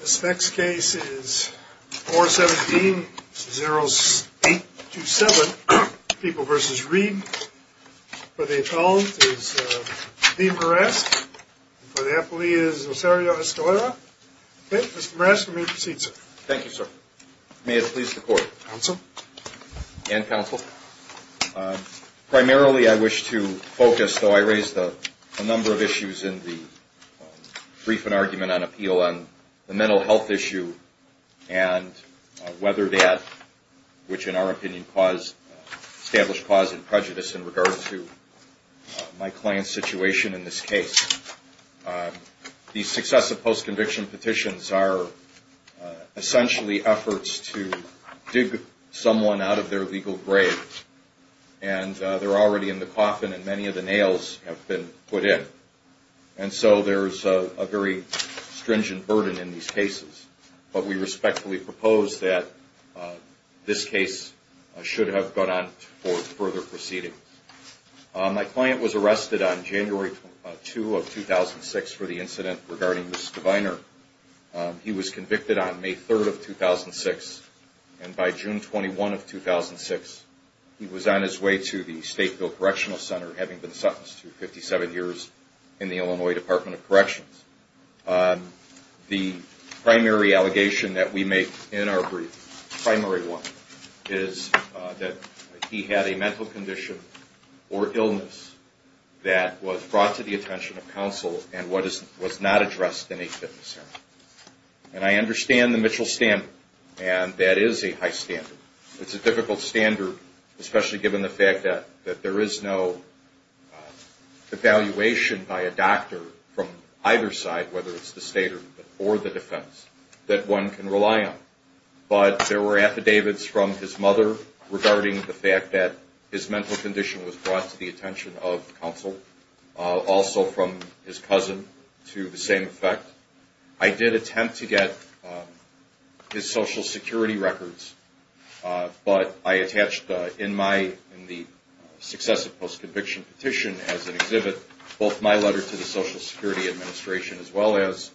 This next case is 417-0827, People v. Reed. For the appellant is Dean Burask. For the appellee is Osario Escalera. Okay, Mr. Burask, you may proceed, sir. Thank you, sir. May it please the court. Counsel. And counsel. Primarily I wish to focus, though I raised a number of issues in the brief and appeal on the mental health issue and whether that, which in our opinion established cause of prejudice in regard to my client's situation in this case. These successive post-conviction petitions are essentially efforts to dig someone out of their legal grave, and they're already in the coffin, and many of the nails have been put in. And so there's a very stringent burden in these cases. But we respectfully propose that this case should have gone on for further proceeding. My client was arrested on January 2 of 2006 for the incident regarding Mrs. Deviner. He was convicted on May 3 of 2006, and by June 21 of 2006, he was on his way to the State Bill Correctional Center having been sentenced to 57 years in the Illinois Department of Corrections. The primary allegation that we make in our brief, primary one, is that he had a mental condition or illness that was brought to the attention of counsel and was not addressed in a fitness center. And I understand the Mitchell standard, and that is a high standard. It's a difficult standard, especially given the fact that there is no evaluation by a doctor from either side, whether it's the state or the defense, that one can rely on. But there were affidavits from his mother regarding the fact that his mental condition was brought to the attention of counsel, also from his cousin to the same effect. I did attempt to get his Social Security records, but I attached in the successive post-conviction petition as an exhibit both my letter to the Social Security Administration as well as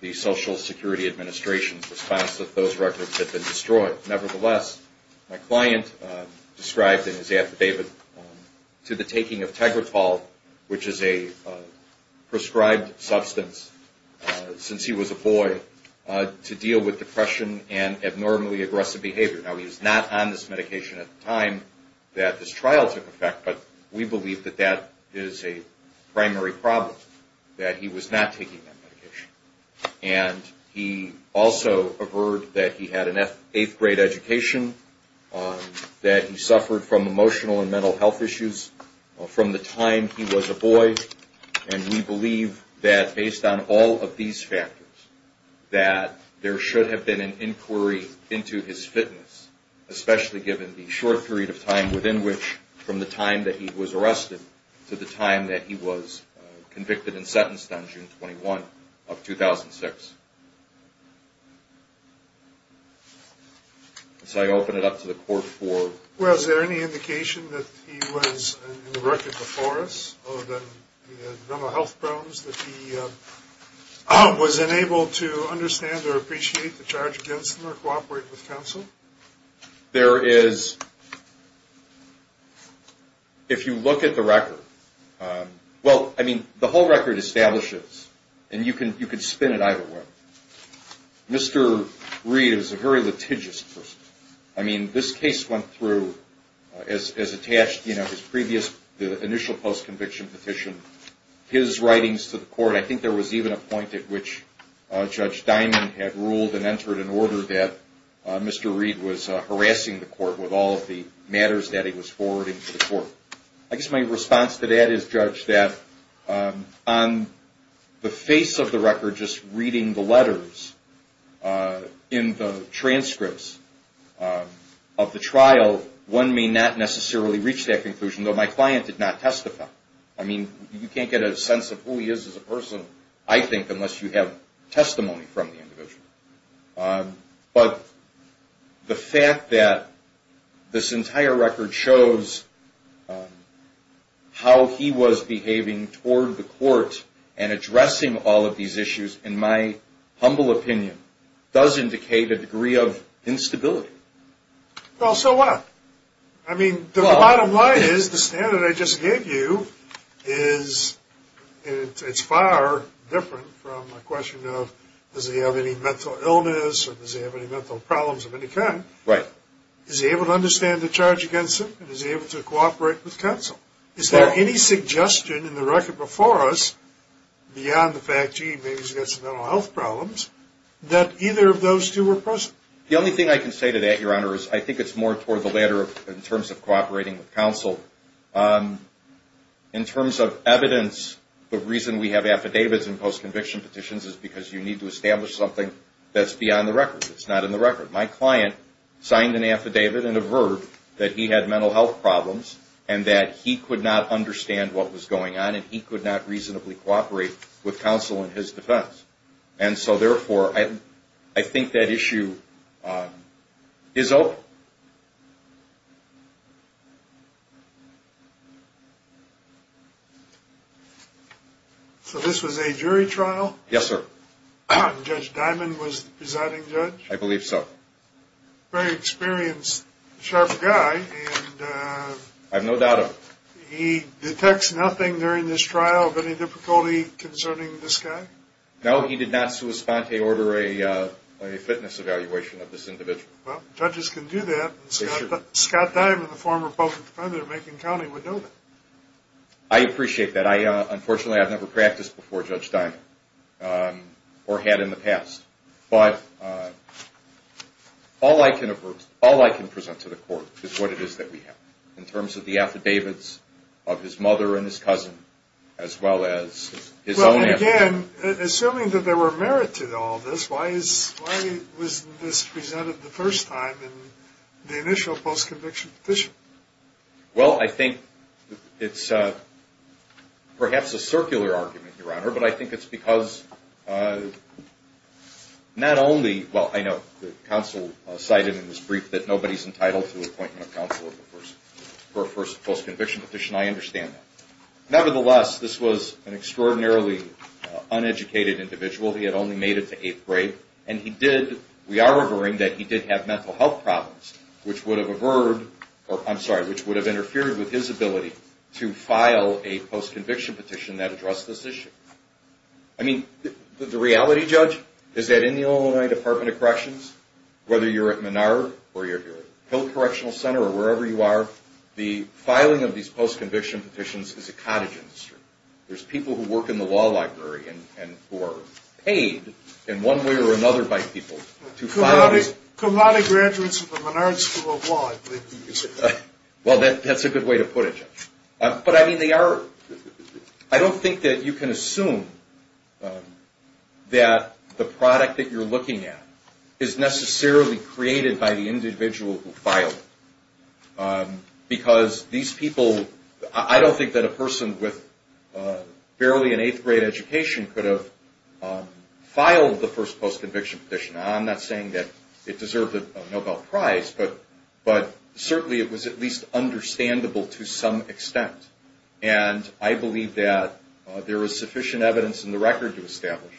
the Social Security Administration's response that those records had been destroyed. Nevertheless, my client described in his affidavit to the taking of Tegretol, which is a prescribed substance since he was a boy, to deal with depression and abnormally aggressive behavior. Now, he was not on this medication at the time that this trial took effect, but we believe that that is a primary problem, that he was not taking that medication. And he also averred that he had an eighth-grade education, that he suffered from emotional and mental health issues from the time he was a boy. And we believe that, based on all of these factors, that there should have been an inquiry into his fitness, especially given the short period of time within which, from the time that he was arrested to the time that he was convicted and sentenced on June 21 of 2006. So I open it up to the court for... Well, is there any indication that he was in the record before us, other than he had mental health problems, that he was unable to understand or appreciate the charge against him or cooperate with counsel? There is. If you look at the record, well, I mean, the whole record establishes, and you can spin it either way, Mr. Reed is a very litigious person. I mean, this case went through, as attached, you know, his previous, the initial post-conviction petition, his writings to the court. I think there was even a point at which Judge Diamond had ruled and entered an order that Mr. Reed was harassing the court with all of the matters that he was forwarding to the court. I guess my response to that is, Judge, that on the face of the record, just reading the letters in the transcripts of the trial, one may not necessarily reach that conclusion, though my client did not testify. I mean, you can't get a sense of who he is as a person, I think, unless you have testimony from the individual. But the fact that this entire record shows how he was behaving toward the court and addressing all of these issues, in my humble opinion, does indicate a degree of instability. Well, so what? I mean, the bottom line is, the standard I just gave you is, it's far different from a question of does he have any mental illness or does he have any mental problems of any kind. Right. Is he able to understand the charge against him and is he able to cooperate with counsel? Is there any suggestion in the record before us, beyond the fact, gee, maybe he's got some mental health problems, that either of those two are present? The only thing I can say to that, Your Honor, is I think it's more toward the latter in terms of cooperating with counsel. In terms of evidence, the reason we have affidavits and post-conviction petitions is because you need to establish something that's beyond the record. It's not in the record. My client signed an affidavit and a verb that he had mental health problems and that he could not understand what was going on and he could not reasonably cooperate with counsel in his defense. And so, therefore, I think that issue is open. So this was a jury trial? Yes, sir. Judge Dimond was the presiding judge? I believe so. Very experienced, sharp guy. I have no doubt of it. He detects nothing during this trial of any difficulty concerning this guy? No, he did not sui sponte order a fitness evaluation of this individual. Well, judges can do that. Scott Dimond, the former public defender of Macon County, would know that. I appreciate that. Unfortunately, I've never practiced before Judge Dimond, or had in the past. But all I can present to the court is what it is that we have, in terms of the affidavits of his mother and his cousin, as well as his own affidavit. Well, again, assuming that there were merit to all this, why was this presented the first time in the initial post-conviction petition? Well, I think it's perhaps a circular argument, Your Honor. But I think it's because not only, well, I know the counsel cited in this brief that nobody's entitled to an appointment of counsel for a first post-conviction petition. I understand that. Nevertheless, this was an extraordinarily uneducated individual. He had only made it to eighth grade. And we are averring that he did have mental health problems, which would have interfered with his ability to file a post-conviction petition that addressed this issue. I mean, the reality, Judge, is that in the Illinois Department of Corrections, whether you're at Menard or you're at Hill Correctional Center or wherever you are, the filing of these post-conviction petitions is a cottage industry. There's people who work in the law library and who are paid in one way or another by people to file these. Karate graduates from the Menard School of Law, I believe you said that. Well, that's a good way to put it, Judge. But, I mean, they are, I don't think that you can assume that the product that you're looking at is necessarily created by the individual who filed it. Because these people, I don't think that a person with barely an eighth grade education could have filed the first post-conviction petition. Now, I'm not saying that it deserved a Nobel Prize, but certainly it was at least understandable to some extent. And I believe that there is sufficient evidence in the record to establish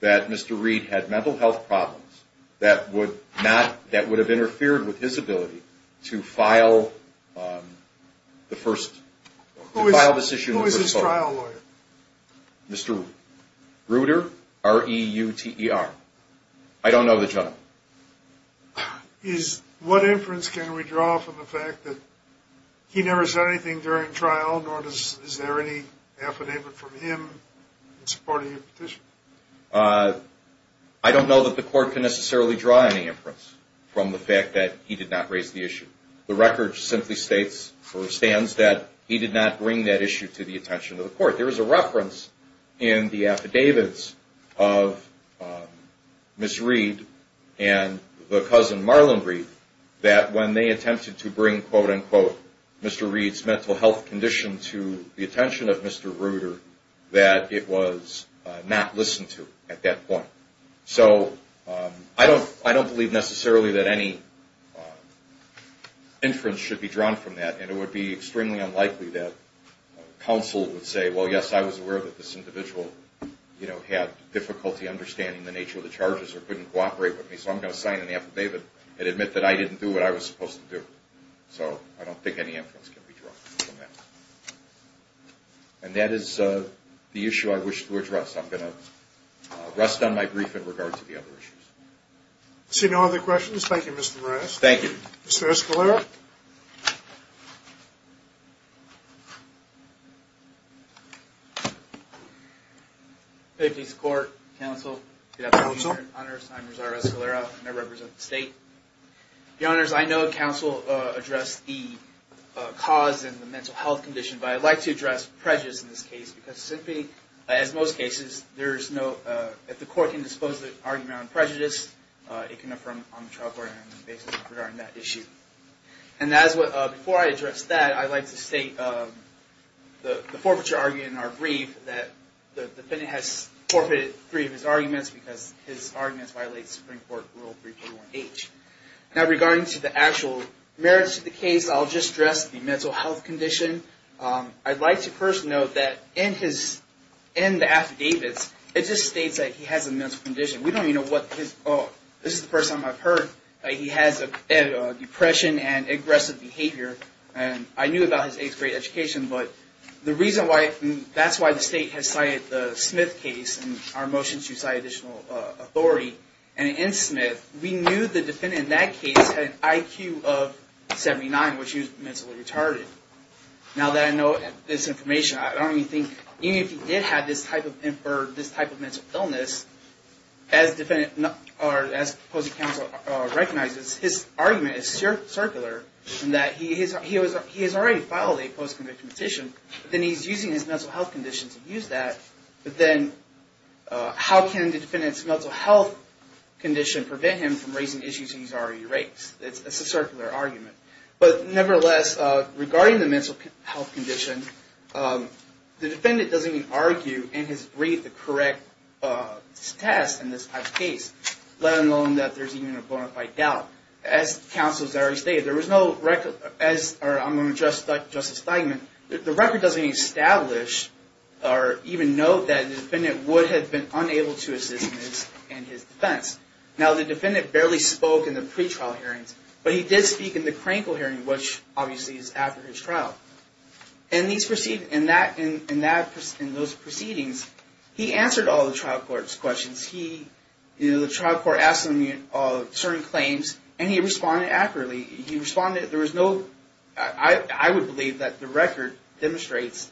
that Mr. Who is his trial lawyer? Mr. Ruter. R-E-U-T-E-R. I don't know the gentleman. What inference can we draw from the fact that he never said anything during trial, nor is there any affidavit from him in support of your petition? I don't know that the court can necessarily draw any inference from the fact that he did not raise the issue. The record simply states or stands that he did not bring that issue to the attention of the court. There is a reference in the affidavits of Ms. Reed and the cousin, Marlon Reed, that when they attempted to bring, quote, unquote, Mr. Reed's mental health condition to the attention of Mr. Ruter, that it was not listened to at that point. So I don't believe necessarily that any inference should be drawn from that, and it would be extremely unlikely that counsel would say, well, yes, I was aware that this individual had difficulty understanding the nature of the charges or couldn't cooperate with me, so I'm going to sign an affidavit and admit that I didn't do what I was supposed to do. So I don't think any inference can be drawn from that. And that is the issue I wish to address. I'm going to rest on my brief in regard to the other issues. I see no other questions. Thank you, Mr. Rask. Thank you. Mr. Escalera. Safety, support, counsel. Good afternoon, Your Honor. I'm Rosario Escalera, and I represent the state. Your Honors, I know counsel addressed the cause and the mental health condition, but I'd like to address prejudice in this case because simply, as most cases, if the court can dispose of the argument on prejudice, it can affirm on the trial court basis regarding that issue. And before I address that, I'd like to state the forfeiture argument in our brief that the defendant has forfeited three of his arguments because his arguments violate Supreme Court Rule 341H. Now, regarding to the actual merits of the case, I'll just address the mental health condition. I'd like to first note that in the affidavits, it just states that he has a mental condition. This is the first time I've heard that he has depression and aggressive behavior. I knew about his eighth grade education, but that's why the state has cited the Smith case in our motion to cite additional authority. And in Smith, we knew the defendant in that case had an IQ of 79, which means he was mentally retarded. Now that I know this information, I don't even think, even if he did have this type of mental illness, as the defendant or as the opposing counsel recognizes, his argument is circular in that he has already filed a post-conviction petition, but then he's using his mental health condition to use that. But then, how can the defendant's mental health condition prevent him from raising issues he's already raised? It's a circular argument. But nevertheless, regarding the mental health condition, the defendant doesn't even argue in his brief the correct test in this type of case, let alone that there's even a bona fide doubt. As counsel has already stated, there was no record, or I'm going to address Justice Steinman, the record doesn't even establish or even note that the defendant would have been unable to assist in his defense. Now, the defendant barely spoke in the pretrial hearings, but he did speak in the crankle hearing, which obviously is after his trial. In those proceedings, he answered all the trial court's questions. The trial court asked him certain claims, and he responded accurately. I would believe that the record demonstrates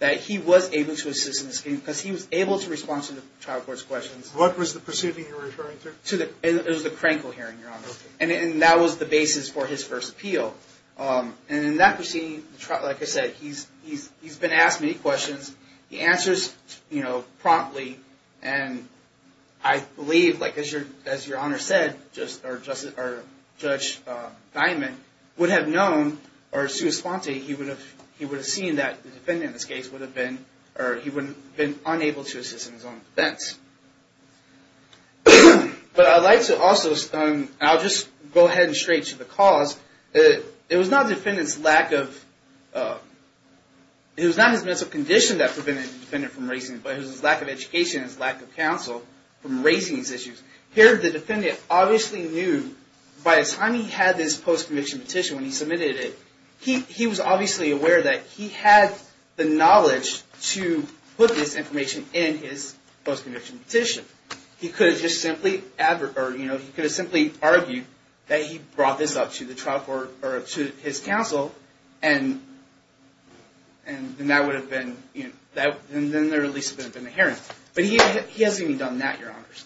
that he was able to assist in his case because he was able to respond to the trial court's questions. What was the proceeding you're referring to? It was the crankle hearing, Your Honor. And that was the basis for his first appeal. And in that proceeding, like I said, he's been asked many questions. He answers promptly. And I believe, like as Your Honor said, Judge Steinman would have known, or sui sponte, he would have seen that the defendant, in this case, would have been unable to assist in his own defense. But I'd like to also, I'll just go ahead and stray to the cause. It was not the defendant's lack of, it was not his mental condition that prevented the defendant from raising, but it was his lack of education and his lack of counsel from raising these issues. Here, the defendant obviously knew, by the time he had this post-conviction petition, when he submitted it, he was obviously aware that he had the knowledge to put this information in his post-conviction petition. He could have just simply argued that he brought this up to his counsel, and then that would have been, then the release would have been inherent. But he hasn't even done that, Your Honors.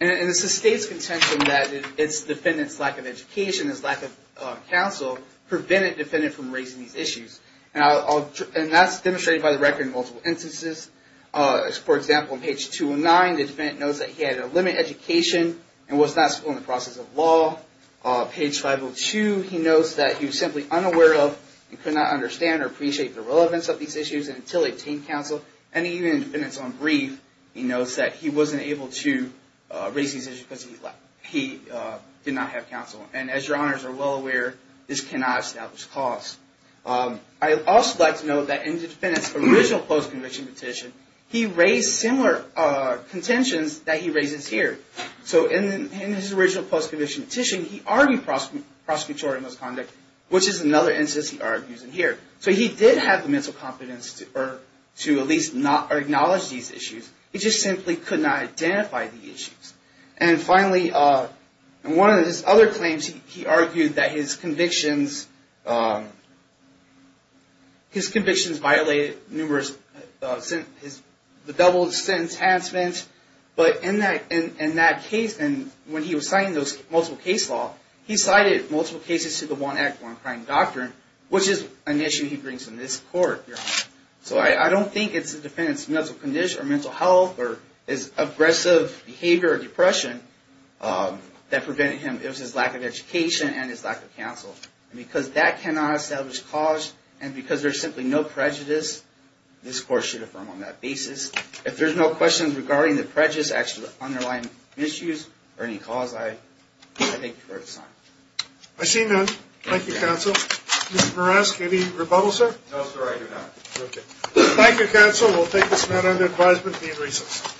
And it sustains contention that it's the defendant's lack of education, his lack of counsel, prevented the defendant from raising these issues. And that's demonstrated by the record in multiple instances. For example, on page 209, the defendant knows that he had a limited education and was not schooled in the process of law. Page 502, he knows that he was simply unaware of, he could not understand or appreciate the relevance of these issues until he obtained counsel. And even in the defendant's own brief, he knows that he wasn't able to raise these issues because he did not have counsel. And as Your Honors are well aware, this cannot establish cause. I'd also like to note that in the defendant's original post-conviction petition, he raised similar contentions that he raises here. So in his original post-conviction petition, he argued prosecutorial misconduct, which is another instance he argues in here. So he did have the mental competence to at least acknowledge these issues. He just simply could not identify the issues. And finally, in one of his other claims, he argued that his convictions violated the double sentence enhancement. But in that case, when he was citing those multiple case law, he cited multiple cases to the one act, one crime doctrine, which is an issue he brings in this court, Your Honors. So I don't think it's the defendant's mental condition or mental health or his aggressive behavior or depression that prevented him. It was his lack of education and his lack of counsel. And because that cannot establish cause and because there's simply no prejudice, this court should affirm on that basis. If there's no questions regarding the prejudice, actually the underlying issues or any cause, I thank you for your time. I see none. Thank you, counsel. Mr. Moresk, any rebuttal, sir? No, sir, I do not. Okay. Thank you, counsel. We'll take this matter under advisement and be in recess.